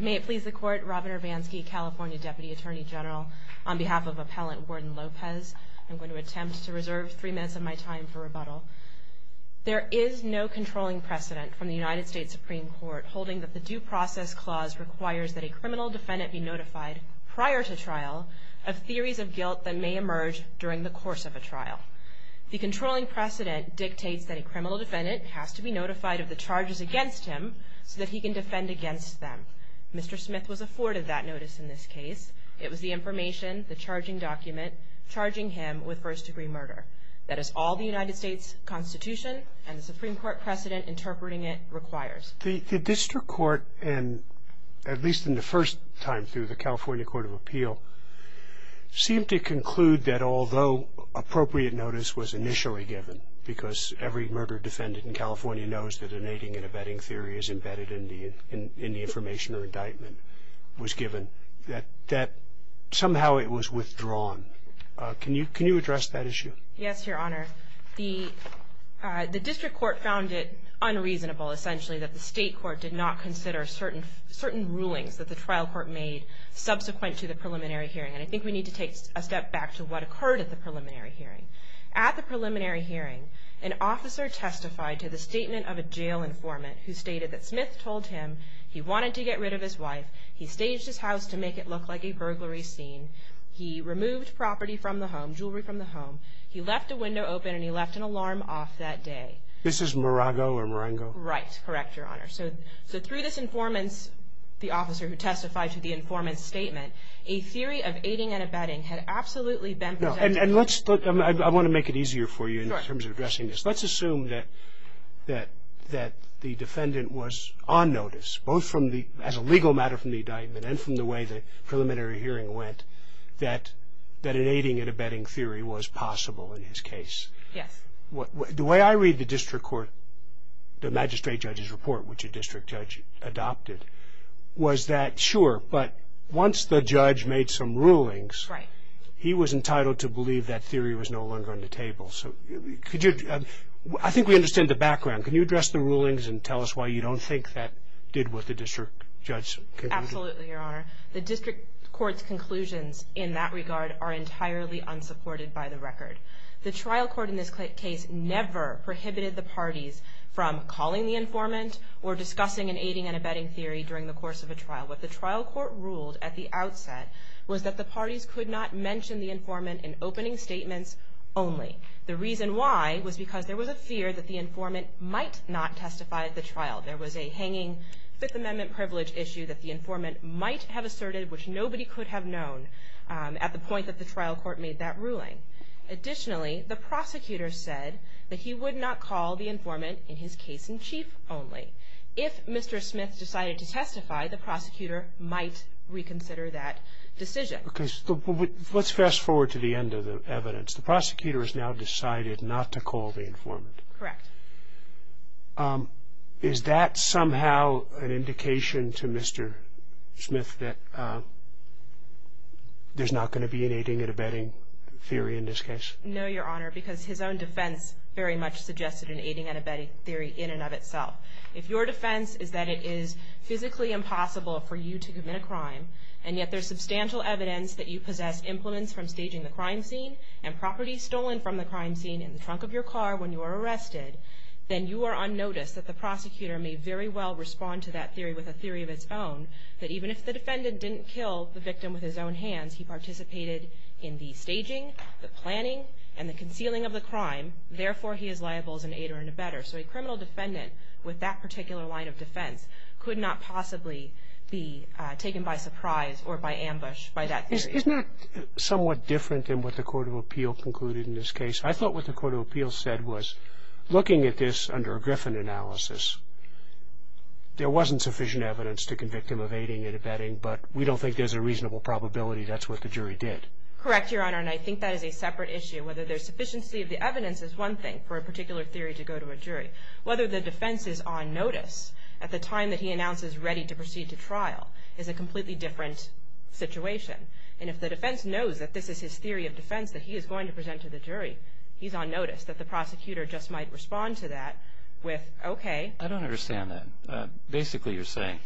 May it please the Court, Robin Urbanski, California Deputy Attorney General, on behalf of Appellant Warden Lopez, I'm going to attempt to reserve three minutes of my time for rebuttal. There is no controlling precedent from the United States Supreme Court holding that the Due Process Clause requires that a criminal defendant be notified prior to trial of theories of guilt that may emerge during the course of a trial. The controlling precedent dictates that a criminal defendant has to be notified of the charges against him so that he can defend against them. Mr. Smith was afforded that notice in this case. It was the information, the charging document, charging him with first-degree murder. That is all the United States Constitution and the Supreme Court precedent interpreting it requires. The District Court, at least in the first time through the California Court of Appeal, seemed to conclude that although appropriate notice was initially given, because every murder defendant in California knows that an aiding and abetting theory is embedded in the information or indictment was given, that somehow it was withdrawn. Can you address that issue? Yes, Your Honor. The District Court found it unreasonable, essentially, that the State Court did not consider certain rulings that the trial court made subsequent to the preliminary hearing. And I think we need to take a step back to what occurred at the preliminary hearing. At the preliminary hearing, an officer testified to the statement of a jail informant who stated that Smith told him he wanted to get rid of his wife, he staged his house to make it look like a burglary scene, he removed property from the home, jewelry from the home, he left a window open and he left an alarm off that day. This is Morago or Morango? Right. Correct, Your Honor. So through this informant, the officer who testified to the informant's statement, a theory of aiding and abetting had absolutely been presented. I want to make it easier for you in terms of addressing this. Let's assume that the defendant was on notice, both as a legal matter from the indictment and from the way the preliminary hearing went, that an aiding and abetting theory was possible in his case. Yes. The way I read the District Court, the magistrate judge's report, which a district judge adopted, was that, sure, but once the judge made some rulings, he was entitled to believe that theory was no longer on the table. I think we understand the background. Can you address the rulings and tell us why you don't think that did what the district judge concluded? Absolutely, Your Honor. The District Court's conclusions in that regard are entirely unsupported by the record. The trial court in this case never prohibited the parties from calling the informant or discussing an aiding and abetting theory during the course of a trial. What the trial court ruled at the outset was that the parties could not mention the informant in opening statements only. The reason why was because there was a fear that the informant might not testify at the trial. There was a hanging Fifth Amendment privilege issue that the informant might have asserted, which nobody could have known at the point that the trial court made that ruling. Additionally, the prosecutor said that he would not call the informant in his case in chief only. If Mr. Smith decided to testify, the prosecutor might reconsider that decision. Let's fast forward to the end of the evidence. The prosecutor has now decided not to call the informant. Correct. Is that somehow an indication to Mr. Smith that there's not going to be an aiding and abetting theory in this case? No, Your Honor, because his own defense very much suggested an aiding and abetting theory in and of itself. If your defense is that it is physically impossible for you to commit a crime, and yet there's substantial evidence that you possess implements from staging the crime scene and property stolen from the crime scene in the trunk of your car when you were arrested, then you are unnoticed that the prosecutor may very well respond to that theory with a theory of its own that even if the defendant didn't kill the victim with his own hands, he participated in the staging, the planning, and the concealing of the crime. Therefore, he is liable as an aider and abetter. So a criminal defendant with that particular line of defense could not possibly be taken by surprise or by ambush by that theory. Isn't that somewhat different than what the Court of Appeal concluded in this case? I thought what the Court of Appeal said was looking at this under a Griffin analysis, there wasn't sufficient evidence to convict him of aiding and abetting, but we don't think there's a reasonable probability that's what the jury did. Correct, Your Honor, and I think that is a separate issue. Whether there's sufficiency of the evidence is one thing for a particular theory to go to a jury. Whether the defense is on notice at the time that he announces ready to proceed to trial is a completely different situation. And if the defense knows that this is his theory of defense that he is going to present to the jury, he's on notice that the prosecutor just might respond to that with, okay. I don't understand that. Basically, you're saying,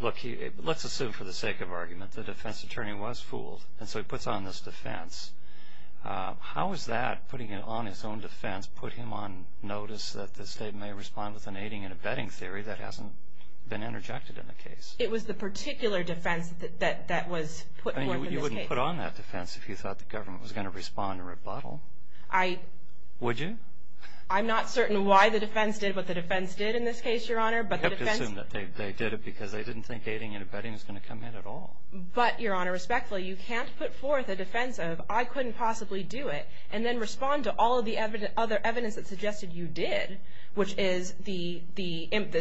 look, let's assume for the sake of argument the defense attorney was fooled, and so he puts on this defense. How is that, putting it on his own defense, put him on notice that the state may respond with an aiding and abetting theory that hasn't been interjected in the case? It was the particular defense that was put forth in this case. I mean, you wouldn't put on that defense if you thought the government was going to respond to rebuttal. Would you? I'm not certain why the defense did what the defense did in this case, Your Honor. You have to assume that they did it because they didn't think aiding and abetting was going to come in at all. But, Your Honor, respectfully, you can't put forth a defense of, I couldn't possibly do it, and then respond to all of the other evidence that suggested you did, which is the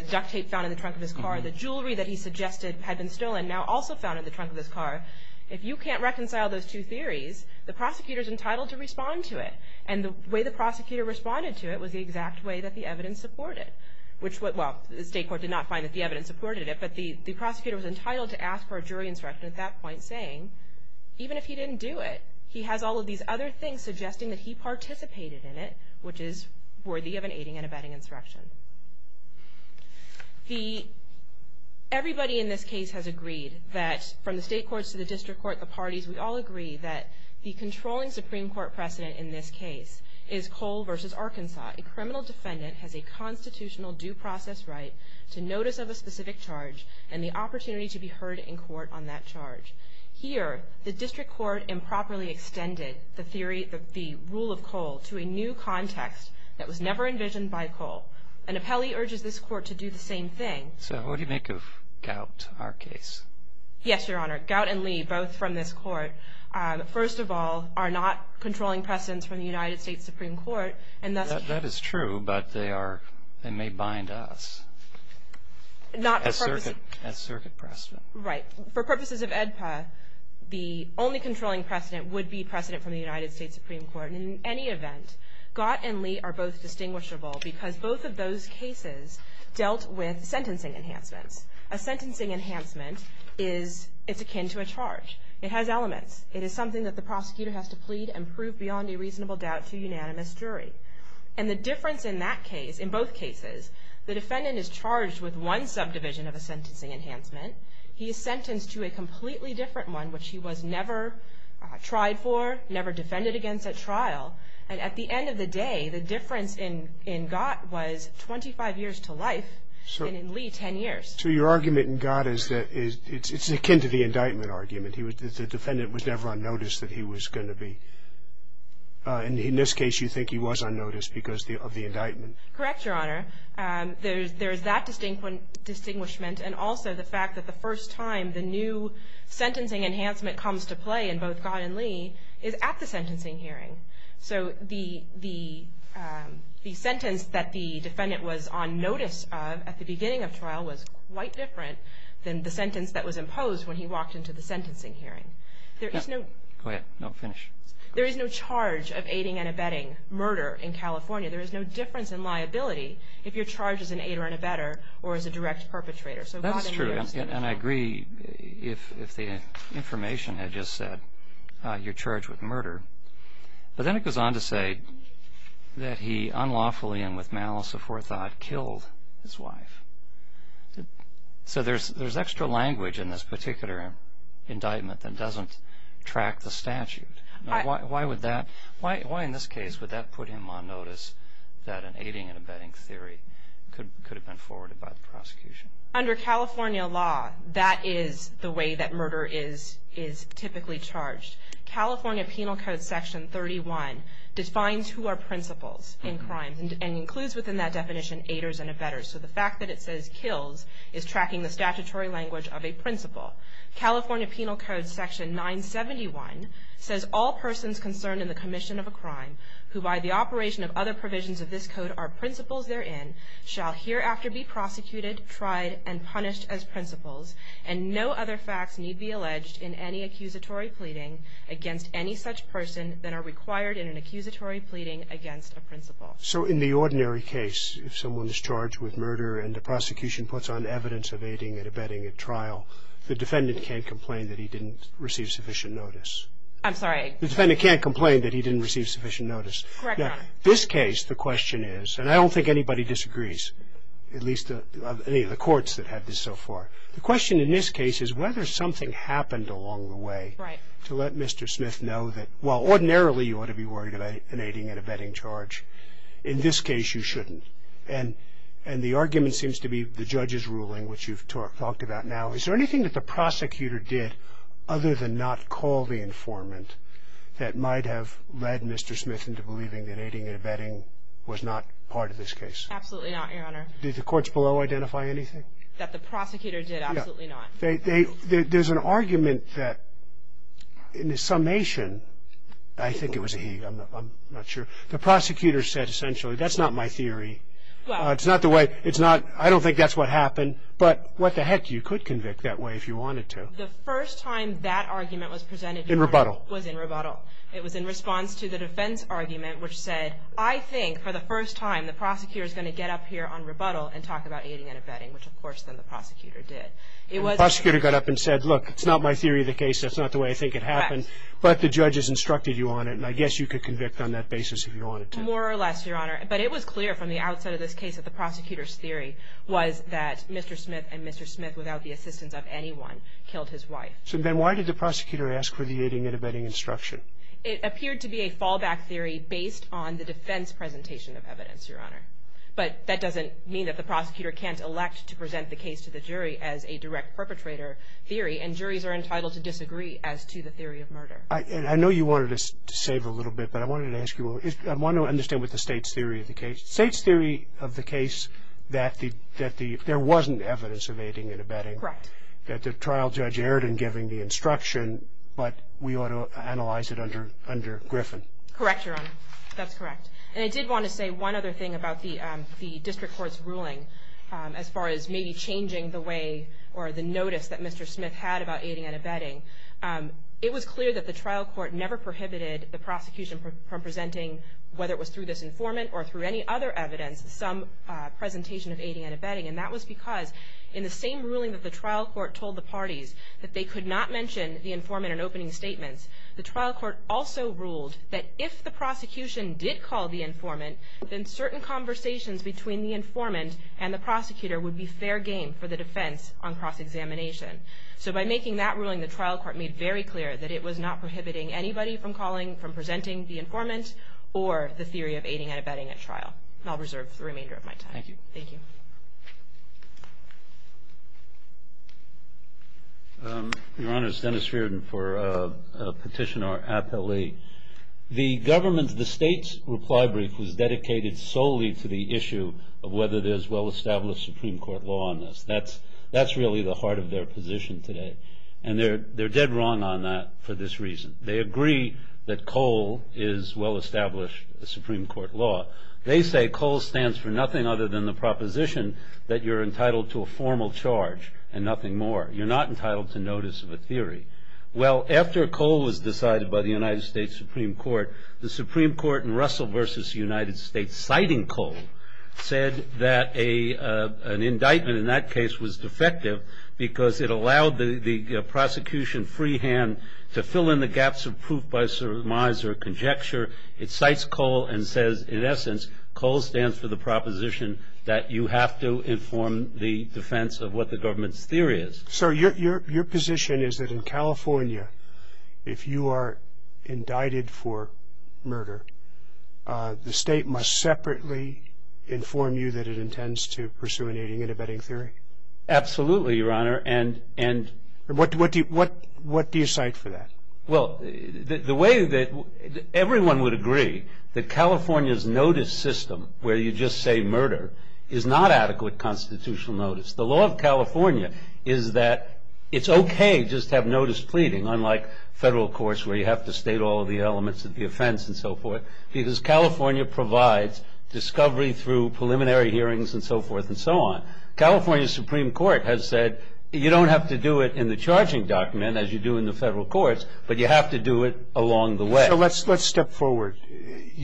duct tape found in the trunk of his car, the jewelry that he suggested had been stolen, now also found in the trunk of his car. If you can't reconcile those two theories, the prosecutor is entitled to respond to it, and the way the prosecutor responded to it was the exact way that the evidence supported it. Well, the state court did not find that the evidence supported it, but the prosecutor was entitled to ask for a jury insurrection at that point, saying, even if he didn't do it, he has all of these other things suggesting that he participated in it, which is worthy of an aiding and abetting insurrection. Everybody in this case has agreed that, from the state courts to the district court, the parties, we all agree that the controlling Supreme Court precedent in this case is Cole v. Arkansas. A criminal defendant has a constitutional due process right to notice of a specific charge and the opportunity to be heard in court on that charge. Here, the district court improperly extended the rule of Cole to a new context that was never envisioned by Cole, and Appelli urges this court to do the same thing. So what do you make of Gout, our case? Yes, Your Honor. Gout and Lee, both from this court, first of all, are not controlling precedents from the United States Supreme Court, and that's true, but they may bind us as circuit precedent. Right. For purposes of AEDPA, the only controlling precedent would be precedent from the United States Supreme Court. In any event, Gout and Lee are both distinguishable because both of those cases dealt with sentencing enhancements. A sentencing enhancement is akin to a charge. It has elements. It is something that the prosecutor has to plead and prove beyond a reasonable doubt to a unanimous jury, and the difference in that case, in both cases, the defendant is charged with one subdivision of a sentencing enhancement. He is sentenced to a completely different one, which he was never tried for, never defended against at trial, and at the end of the day, the difference in Gout was 25 years to life and in Lee, 10 years. So your argument in Gout is that it's akin to the indictment argument. The defendant was never on notice that he was going to be. In this case, you think he was on notice because of the indictment. Correct, Your Honor. There is that distinguishment and also the fact that the first time the new sentencing enhancement comes to play in both Gout and Lee is at the sentencing hearing. So the sentence that the defendant was on notice of at the beginning of trial was quite different than the sentence that was imposed when he walked into the sentencing hearing. Go ahead, finish. There is no charge of aiding and abetting murder in California. There is no difference in liability if you're charged as an aider and abetter or as a direct perpetrator. That's true, and I agree if the information had just said you're charged with murder. But then it goes on to say that he unlawfully and with malice aforethought killed his wife. So there's extra language in this particular indictment that doesn't track the statute. Why in this case would that put him on notice that an aiding and abetting theory could have been forwarded by the prosecution? Under California law, that is the way that murder is typically charged. California Penal Code Section 31 defines who are principals in crime and includes within that definition aiders and abetters. So the fact that it says kills is tracking the statutory language of a principal. California Penal Code Section 971 says all persons concerned in the commission of a crime who by the operation of other provisions of this code are principals therein shall hereafter be prosecuted, tried, and punished as principals, and no other facts need be alleged in any accusatory pleading against any such person than are required in an accusatory pleading against a principal. So in the ordinary case, if someone is charged with murder and the prosecution puts on evidence of aiding and abetting at trial, the defendant can't complain that he didn't receive sufficient notice. I'm sorry. The defendant can't complain that he didn't receive sufficient notice. Correct, Your Honor. Now, this case, the question is, and I don't think anybody disagrees, at least any of the courts that have this so far. The question in this case is whether something happened along the way to let Mr. Smith know that, while ordinarily you ought to be worried about an aiding and abetting charge, in this case you shouldn't. And the argument seems to be the judge's ruling, which you've talked about now. Is there anything that the prosecutor did other than not call the informant that might have led Mr. Smith into believing that aiding and abetting was not part of this case? Absolutely not, Your Honor. Did the courts below identify anything? That the prosecutor did, absolutely not. There's an argument that in the summation, I think it was he, I'm not sure, the prosecutor said essentially, that's not my theory. It's not the way, it's not, I don't think that's what happened, but what the heck, you could convict that way if you wanted to. The first time that argument was presented, Your Honor. In rebuttal. Was in rebuttal. It was in response to the defense argument, which said, I think for the first time the prosecutor is going to get up here on rebuttal and talk about aiding and abetting, which of course then the prosecutor did. The prosecutor got up and said, look, it's not my theory of the case, that's not the way I think it happened, but the judge has instructed you on it and I guess you could convict on that basis if you wanted to. More or less, Your Honor. But it was clear from the outset of this case that the prosecutor's theory was that Mr. Smith and Mr. Smith without the assistance of anyone killed his wife. So then why did the prosecutor ask for the aiding and abetting instruction? It appeared to be a fallback theory based on the defense presentation of evidence, Your Honor. But that doesn't mean that the prosecutor can't elect to present the case to the jury as a direct perpetrator theory, and juries are entitled to disagree as to the theory of murder. I know you wanted to save a little bit, but I wanted to ask you, I want to understand what the State's theory of the case. State's theory of the case that there wasn't evidence of aiding and abetting. Correct. That the trial judge erred in giving the instruction, but we ought to analyze it under Griffin. Correct, Your Honor. That's correct. And I did want to say one other thing about the district court's ruling as far as maybe changing the way or the notice that Mr. Smith had about aiding and abetting. It was clear that the trial court never prohibited the prosecution from presenting, whether it was through this informant or through any other evidence, some presentation of aiding and abetting. And that was because in the same ruling that the trial court told the parties that they could not mention the informant in opening statements, the trial court also ruled that if the prosecution did call the informant, then certain conversations between the informant and the prosecutor would be fair game for the defense on cross-examination. So by making that ruling, the trial court made very clear that it was not prohibiting anybody from calling, from presenting the informant, or the theory of aiding and abetting at trial. And I'll reserve the remainder of my time. Thank you. Thank you. Your Honor, it's Dennis Feardon for Petitioner Appellee. The government's, the state's reply brief was dedicated solely to the issue of whether there's well-established Supreme Court law on this. That's really the heart of their position today. And they're dead wrong on that for this reason. They agree that COLE is well-established Supreme Court law. They say COLE stands for nothing other than the proposition that you're entitled to a formal charge and nothing more. You're not entitled to notice of a theory. Well, after COLE was decided by the United States Supreme Court, the Supreme Court in Russell v. United States citing COLE said that an indictment in that case was defective because it allowed the prosecution freehand to fill in the gaps of proof by surmise or conjecture. It cites COLE and says, in essence, COLE stands for the proposition that you have to inform the defense of what the government's theory is. So your position is that in California, if you are indicted for murder, the state must separately inform you that it intends to pursue an aiding and abetting theory? Absolutely, Your Honor. And what do you cite for that? Well, the way that everyone would agree that California's notice system where you just say murder is not adequate constitutional notice. The law of California is that it's okay just to have notice pleading, unlike federal courts where you have to state all of the elements of the offense and so forth, because California provides discovery through preliminary hearings and so forth and so on. California Supreme Court has said you don't have to do it in the charging document as you do in the federal courts, but you have to do it along the way. So let's step forward.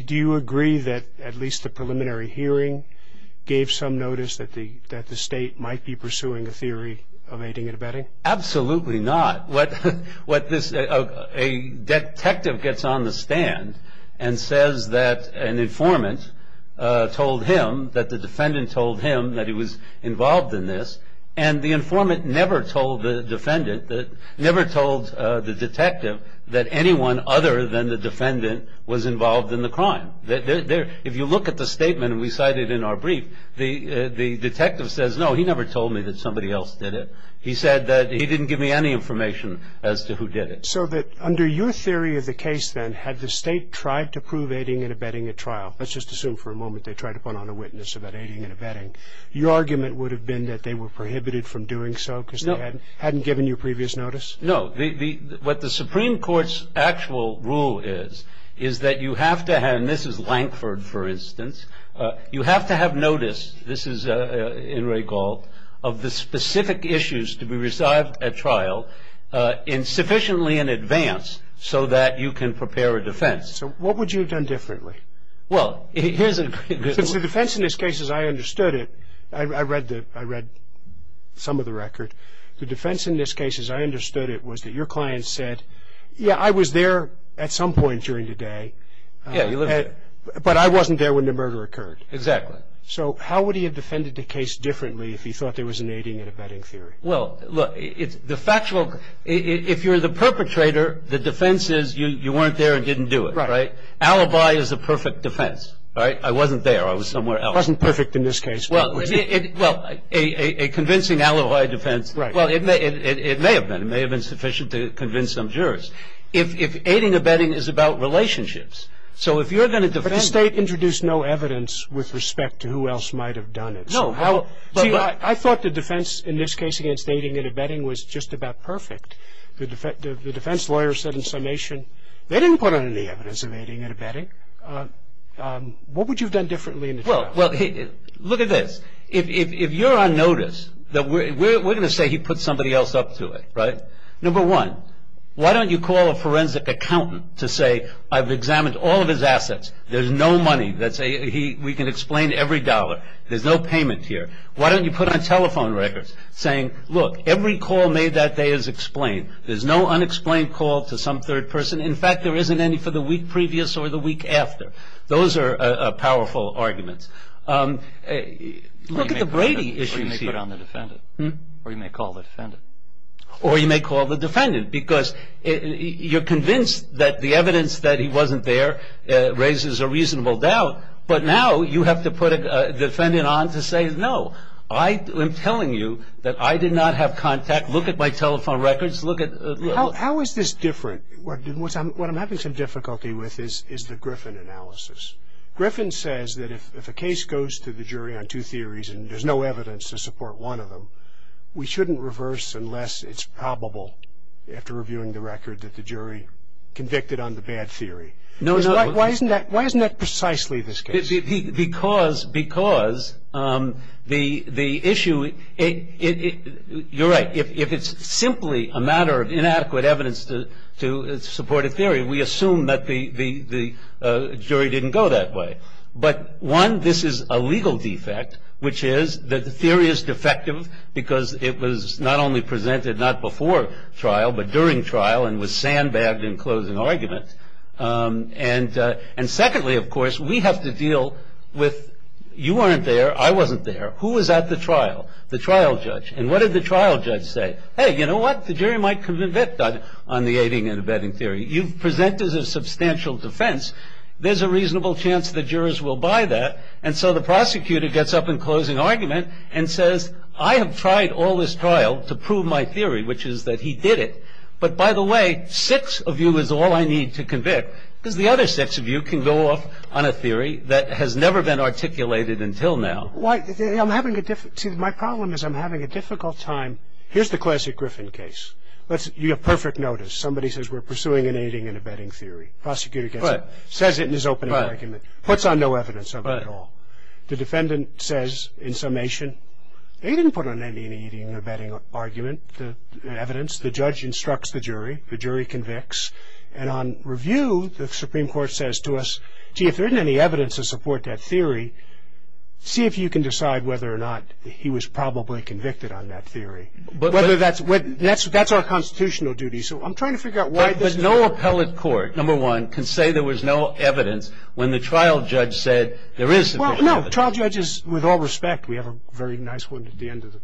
Do you agree that at least the preliminary hearing gave some notice that the state might be pursuing a theory of aiding and abetting? Absolutely not. A detective gets on the stand and says that an informant told him, that the defendant told him that he was involved in this, and the informant never told the defendant, never told the detective that anyone other than the defendant was involved in the crime. If you look at the statement we cited in our brief, the detective says, no, he never told me that somebody else did it. He said that he didn't give me any information as to who did it. So that under your theory of the case then, had the state tried to prove aiding and abetting at trial, let's just assume for a moment they tried to put on a witness about aiding and abetting, your argument would have been that they were prohibited from doing so because they hadn't given you previous notice? No. What the Supreme Court's actual rule is, is that you have to have, and this is Lankford, for instance, you have to have notice, this is Inouye Gault, of the specific issues to be resolved at trial sufficiently in advance so that you can prepare a defense. So what would you have done differently? Well, here's a good one. Because the defense in this case, as I understood it, I read some of the record, the defense in this case, as I understood it, was that your client said, yeah, I was there at some point during the day, but I wasn't there when the murder occurred. Exactly. So how would he have defended the case differently if he thought there was an aiding and abetting theory? Well, look, the factual, if you're the perpetrator, the defense is you weren't there and didn't do it, right? Alibi is the perfect defense, right? I wasn't there. I was somewhere else. It wasn't perfect in this case. Well, a convincing alibi defense, well, it may have been. It may have been sufficient to convince some jurors. If aiding and abetting is about relationships, so if you're going to defend... But the State introduced no evidence with respect to who else might have done it. No. See, I thought the defense in this case against aiding and abetting was just about perfect. The defense lawyer said in summation, they didn't put on any evidence of aiding and abetting. What would you have done differently in this case? Well, look at this. If you're on notice, we're going to say he put somebody else up to it, right? Number one, why don't you call a forensic accountant to say, I've examined all of his assets. There's no money. We can explain every dollar. There's no payment here. Why don't you put on telephone records saying, look, every call made that day is explained. There's no unexplained call to some third person. In fact, there isn't any for the week previous or the week after. Those are powerful arguments. Look at the Brady issue. Or you may call the defendant. Or you may call the defendant because you're convinced that the evidence that he wasn't there raises a reasonable doubt, but now you have to put the defendant on to say, no, I am telling you that I did not have contact. Look at my telephone records. Look at... How is this different? What I'm having some difficulty with is the Griffin analysis. Griffin says that if a case goes to the jury on two theories and there's no evidence to support one of them, we shouldn't reverse unless it's probable after reviewing the record that the jury convicted on the bad theory. Why isn't that precisely this case? Because the issue... You're right. If it's simply a matter of inadequate evidence to support a theory, we assume that the jury didn't go that way. But, one, this is a legal defect, which is that the theory is defective because it was not only presented not before trial, but during trial and was sandbagged in closing argument. And, secondly, of course, we have to deal with, you weren't there, I wasn't there, who was at the trial? The trial judge. And what did the trial judge say? Hey, you know what? The jury might convict on the aiding and abetting theory. You've presented a substantial defense. There's a reasonable chance the jurors will buy that. And so the prosecutor gets up in closing argument and says, I have tried all this trial to prove my theory, which is that he did it. But, by the way, six of you is all I need to convict, because the other six of you can go off on a theory that has never been articulated until now. See, my problem is I'm having a difficult time. Here's the classic Griffin case. You have perfect notice. Somebody says we're pursuing an aiding and abetting theory. Prosecutor gets up, says it in his opening argument, puts on no evidence of it at all. The defendant says, in summation, they didn't put on any aiding or abetting argument, evidence. The judge instructs the jury. The jury convicts. And on review, the Supreme Court says to us, gee, if there isn't any evidence to support that theory, see if you can decide whether or not he was probably convicted on that theory. That's our constitutional duty. So I'm trying to figure out why this is. But no appellate court, number one, can say there was no evidence when the trial judge said there is sufficient evidence. Well, no. Trial judges, with all respect, we have a very nice one at the end of the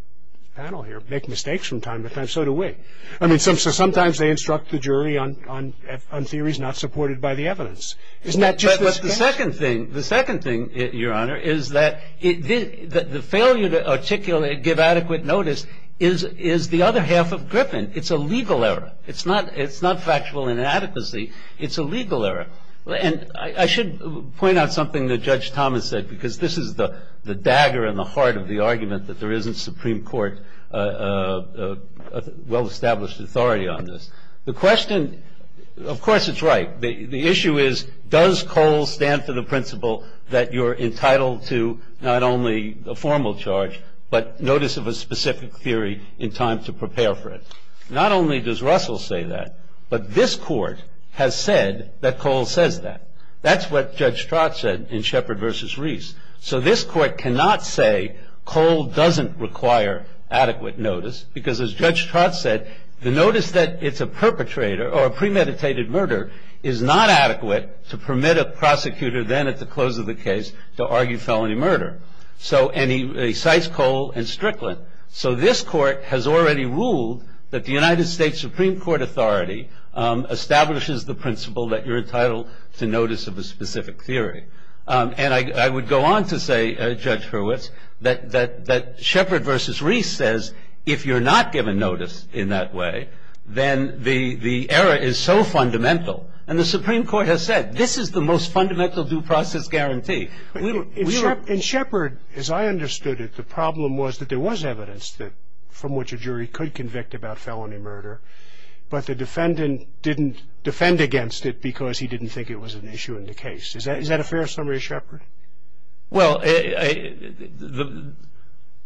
panel here, make mistakes from time to time. So do we. I mean, so sometimes they instruct the jury on theories not supported by the evidence. Isn't that just the standard? The second thing, Your Honor, is that the failure to articulate, give adequate notice, is the other half of Griffin. It's a legal error. It's not factual inadequacy. It's a legal error. And I should point out something that Judge Thomas said, because this is the dagger in the heart of the argument that there isn't Supreme Court well-established authority on this. The question, of course it's right. The issue is, does Cole stand for the principle that you're entitled to not only a formal charge, but notice of a specific theory in time to prepare for it? Not only does Russell say that, but this Court has said that Cole says that. That's what Judge Trott said in Shepard v. Reese. So this Court cannot say Cole doesn't require adequate notice, because as Judge Trott said, the notice that it's a perpetrator or a premeditated murder is not adequate to permit a prosecutor, then at the close of the case, to argue felony murder. And he cites Cole and Strickland. So this Court has already ruled that the United States Supreme Court authority establishes the principle that you're entitled to notice of a specific theory. And I would go on to say, Judge Hurwitz, that Shepard v. Reese says, if you're not given notice in that way, then the error is so fundamental. And the Supreme Court has said, this is the most fundamental due process guarantee. In Shepard, as I understood it, the problem was that there was evidence from which a jury could convict about felony murder, but the defendant didn't defend against it because he didn't think it was an issue in the case. Is that a fair summary of Shepard? Well, there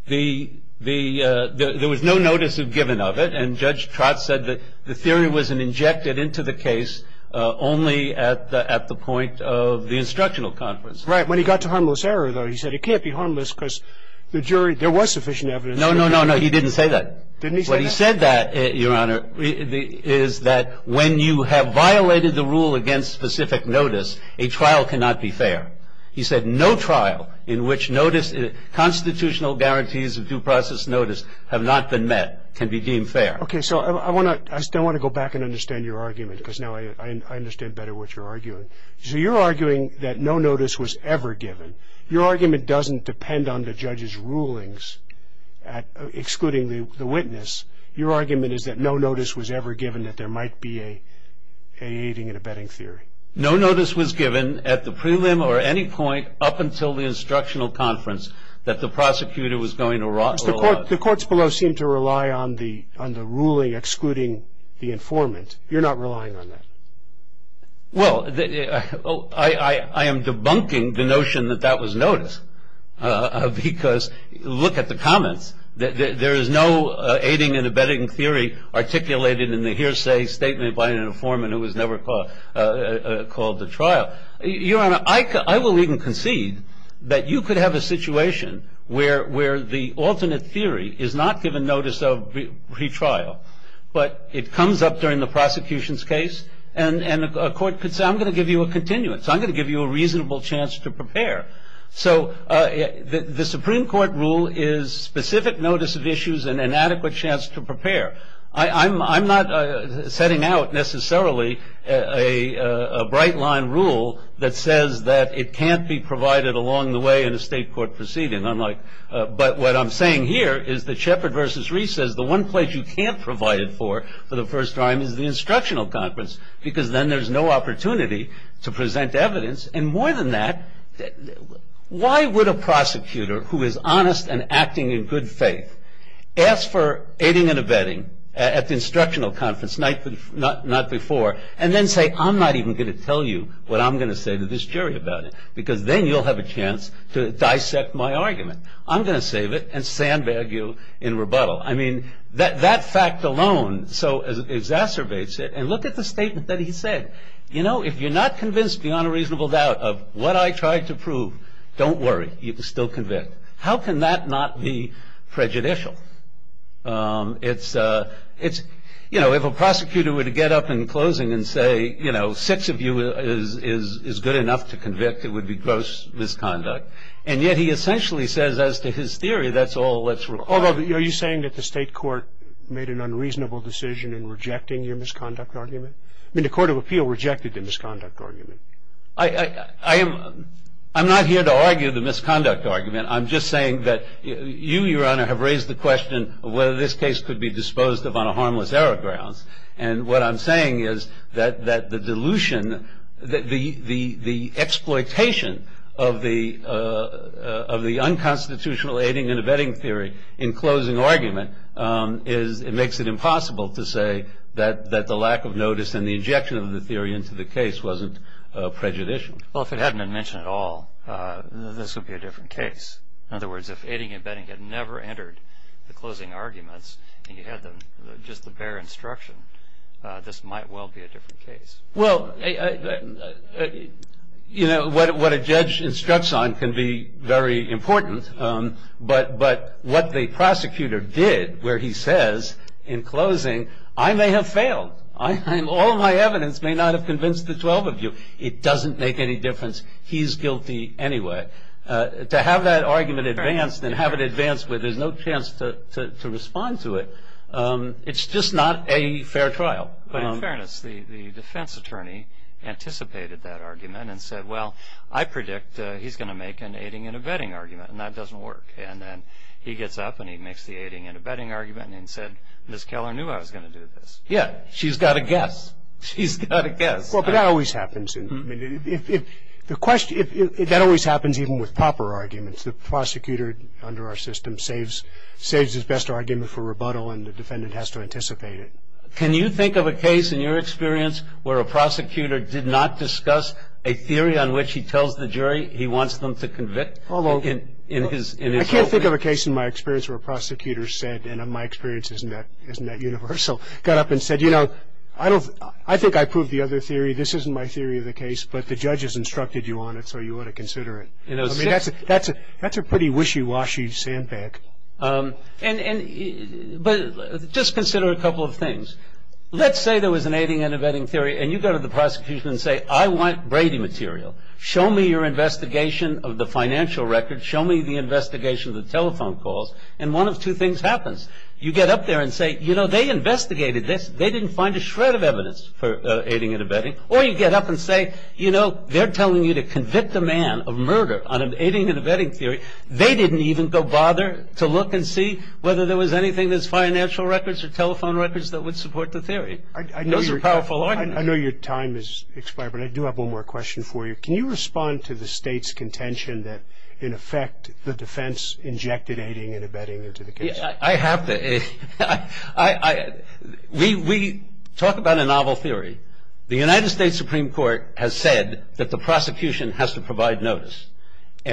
was no notice given of it, and Judge Trott said that the theory wasn't injected into the case only at the point of the instructional conference. Right. When he got to harmless error, though, he said it can't be harmless because the jury, there was sufficient evidence. No, no, no, no. He didn't say that. Didn't he say that? What he said, Your Honor, is that when you have violated the rule against specific notice, a trial cannot be fair. He said no trial in which constitutional guarantees of due process notice have not been met can be deemed fair. Okay. So I still want to go back and understand your argument because now I understand better what you're arguing. So you're arguing that no notice was ever given. Your argument doesn't depend on the judge's rulings excluding the witness. Your argument is that no notice was ever given that there might be a aiding and abetting theory. No notice was given at the prelim or any point up until the instructional conference that the prosecutor was going to rely on. The courts below seem to rely on the ruling excluding the informant. You're not relying on that. Well, I am debunking the notion that that was notice because look at the comments. There is no aiding and abetting theory articulated in the hearsay statement by an informant who was never called to trial. Your Honor, I will even concede that you could have a situation where the alternate theory is not given notice of retrial, but it comes up during the prosecution's case and a court could say I'm going to give you a continuance. I'm going to give you a reasonable chance to prepare. So the Supreme Court rule is specific notice of issues and an adequate chance to prepare. I'm not setting out necessarily a bright line rule that says that it can't be provided along the way in a state court proceeding. But what I'm saying here is that Shepard v. Reese says the one place you can't provide it for for the first time is the instructional conference because then there's no opportunity to present evidence. And more than that, why would a prosecutor who is honest and acting in good faith ask for aiding and abetting at the instructional conference, not before, and then say I'm not even going to tell you what I'm going to say to this jury about it because then you'll have a chance to dissect my argument. I'm going to save it and sandbag you in rebuttal. I mean, that fact alone so exacerbates it. And look at the statement that he said. You know, if you're not convinced beyond a reasonable doubt of what I tried to prove, don't worry. You can still convict. How can that not be prejudicial? It's, you know, if a prosecutor were to get up in closing and say, you know, six of you is good enough to convict, it would be gross misconduct. And yet he essentially says as to his theory that's all that's required. Are you saying that the state court made an unreasonable decision in rejecting your misconduct argument? I mean, the Court of Appeal rejected the misconduct argument. I'm not here to argue the misconduct argument. I'm just saying that you, Your Honor, have raised the question of whether this case could be disposed of on a harmless error grounds. And what I'm saying is that the dilution, the exploitation of the unconstitutional aiding and abetting theory in closing argument makes it impossible to say that the lack of notice and the injection of the theory into the case wasn't prejudicial. Well, if it hadn't been mentioned at all, this would be a different case. In other words, if aiding and abetting had never entered the closing arguments and you had just the bare instruction, this might well be a different case. Well, you know, what a judge instructs on can be very important. But what the prosecutor did where he says in closing, I may have failed. All of my evidence may not have convinced the 12 of you. It doesn't make any difference. He's guilty anyway. To have that argument advanced and have it advanced where there's no chance to respond to it, it's just not a fair trial. But in fairness, the defense attorney anticipated that argument and said, well, I predict he's going to make an aiding and abetting argument, and that doesn't work. And then he gets up and he makes the aiding and abetting argument and said, Ms. Keller knew I was going to do this. Yeah, she's got a guess. She's got a guess. Well, but that always happens. That always happens even with proper arguments. The prosecutor under our system saves his best argument for rebuttal and the defendant has to anticipate it. Can you think of a case in your experience where a prosecutor did not discuss a theory on which he tells the jury he wants them to convict? I can't think of a case in my experience where a prosecutor said, and my experience isn't that universal, got up and said, you know, I think I proved the other theory. This isn't my theory of the case, but the judge has instructed you on it, so you ought to consider it. I mean, that's a pretty wishy-washy sandbag. But just consider a couple of things. Let's say there was an aiding and abetting theory, and you go to the prosecution and say, I want Brady material. Show me your investigation of the financial record. Show me the investigation of the telephone calls. And one of two things happens. You get up there and say, you know, they investigated this. They didn't find a shred of evidence for aiding and abetting. Or you get up and say, you know, they're telling you to convict a man of murder on an aiding and abetting theory. They didn't even go bother to look and see whether there was anything that's financial records or telephone records that would support the theory. Those are powerful arguments. I know your time has expired, but I do have one more question for you. Can you respond to the State's contention that, in effect, the defense injected aiding and abetting into the case? I have to. We talk about a novel theory. The United States Supreme Court has said that the prosecution has to provide notice.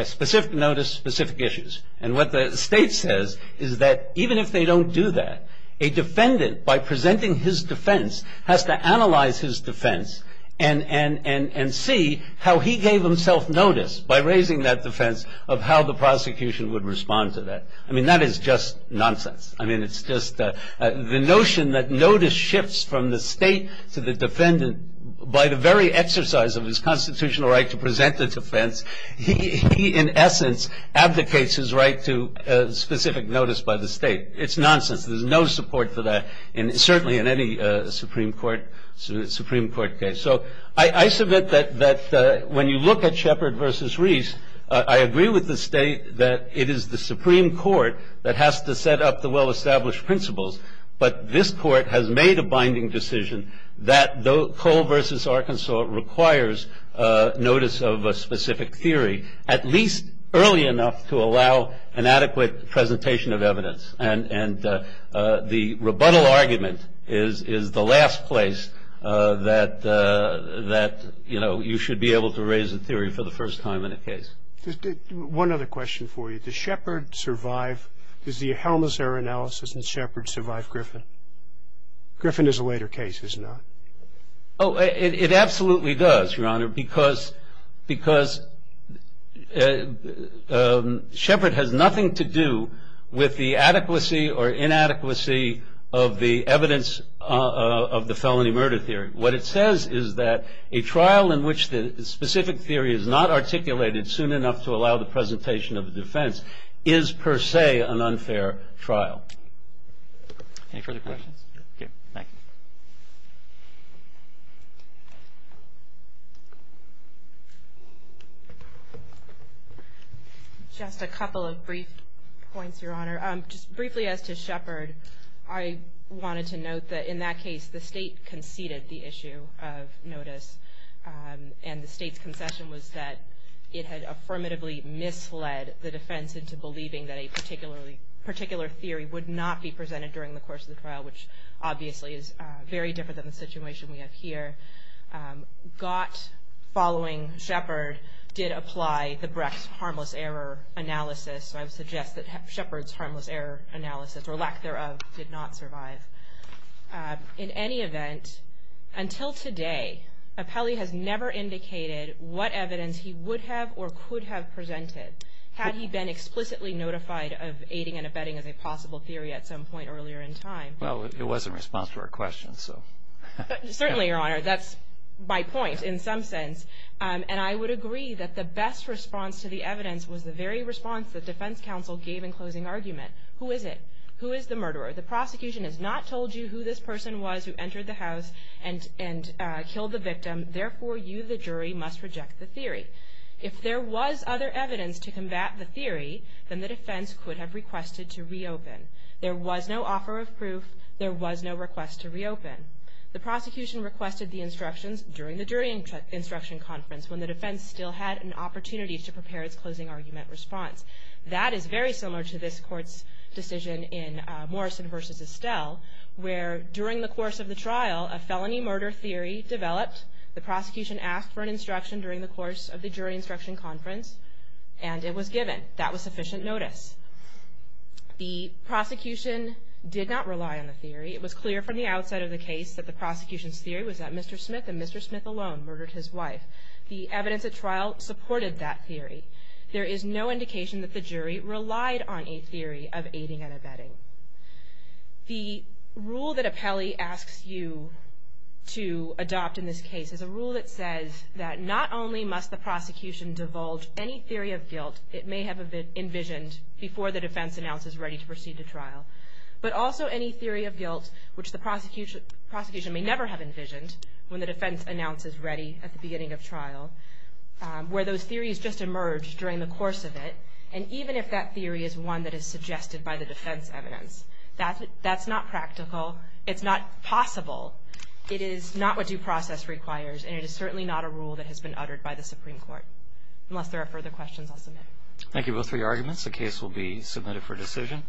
Specific notice, specific issues. And what the State says is that, even if they don't do that, a defendant, by presenting his defense, has to analyze his defense and see how he gave himself notice, by raising that defense, of how the prosecution would respond to that. I mean, that is just nonsense. I mean, it's just the notion that notice shifts from the State to the defendant by the very exercise of his constitutional right to present the defense. He, in essence, abdicates his right to specific notice by the State. It's nonsense. There's no support for that, certainly in any Supreme Court case. I agree with the State that it is the Supreme Court that has to set up the well-established principles. But this Court has made a binding decision that Cole v. Arkansas requires notice of a specific theory at least early enough to allow an adequate presentation of evidence. And the rebuttal argument is the last place that, you know, to raise a theory for the first time in a case. One other question for you. Does Shepard survive? Does the Helmer's error analysis in Shepard survive Griffin? Griffin is a later case, isn't it? Oh, it absolutely does, Your Honor, because Shepard has nothing to do with the adequacy or inadequacy of the evidence of the felony murder theory. What it says is that a trial in which the specific theory is not articulated soon enough to allow the presentation of the defense is, per se, an unfair trial. Any further questions? Thank you. Just a couple of brief points, Your Honor. Just briefly as to Shepard, I wanted to note that in that case, the State conceded the issue of notice. And the State's concession was that it had affirmatively misled the defense into believing that a particular theory would not be presented during the course of the trial, which obviously is very different than the situation we have here. Gott, following Shepard, did apply the Brecht's harmless error analysis. So I would suggest that Shepard's harmless error analysis, or lack thereof, did not survive. In any event, until today, Apelli has never indicated what evidence he would have or could have presented, had he been explicitly notified of aiding and abetting as a possible theory at some point earlier in time. Well, it was in response to our question, so. Certainly, Your Honor. That's my point in some sense. And I would agree that the best response to the evidence was the very response the defense counsel gave in closing argument. Who is it? Who is the murderer? The prosecution has not told you who this person was who entered the house and killed the victim. Therefore, you, the jury, must reject the theory. If there was other evidence to combat the theory, then the defense could have requested to reopen. There was no request to reopen. The prosecution requested the instructions during the jury instruction conference, when the defense still had an opportunity to prepare its closing argument response. That is very similar to this court's decision in Morrison v. Estelle, where, during the course of the trial, a felony murder theory developed, the prosecution asked for an instruction during the course of the jury instruction conference, and it was given. The prosecution did not rely on the theory. It was clear from the outset of the case that the prosecution's theory was that Mr. Smith and Mr. Smith alone murdered his wife. The evidence at trial supported that theory. There is no indication that the jury relied on a theory of aiding and abetting. The rule that Apelli asks you to adopt in this case is a rule that says that not only must the prosecution divulge any theory of guilt it may have envisioned before the defense announces ready to proceed to trial, but also any theory of guilt which the prosecution may never have envisioned when the defense announces ready at the beginning of trial, where those theories just emerged during the course of it, and even if that theory is one that is suggested by the defense evidence, that's not practical. It's not possible. It is not what due process requires, and it is certainly not a rule that has been uttered by the Supreme Court. Unless there are further questions, I'll submit. Thank you both for your arguments. The case will be submitted for decision.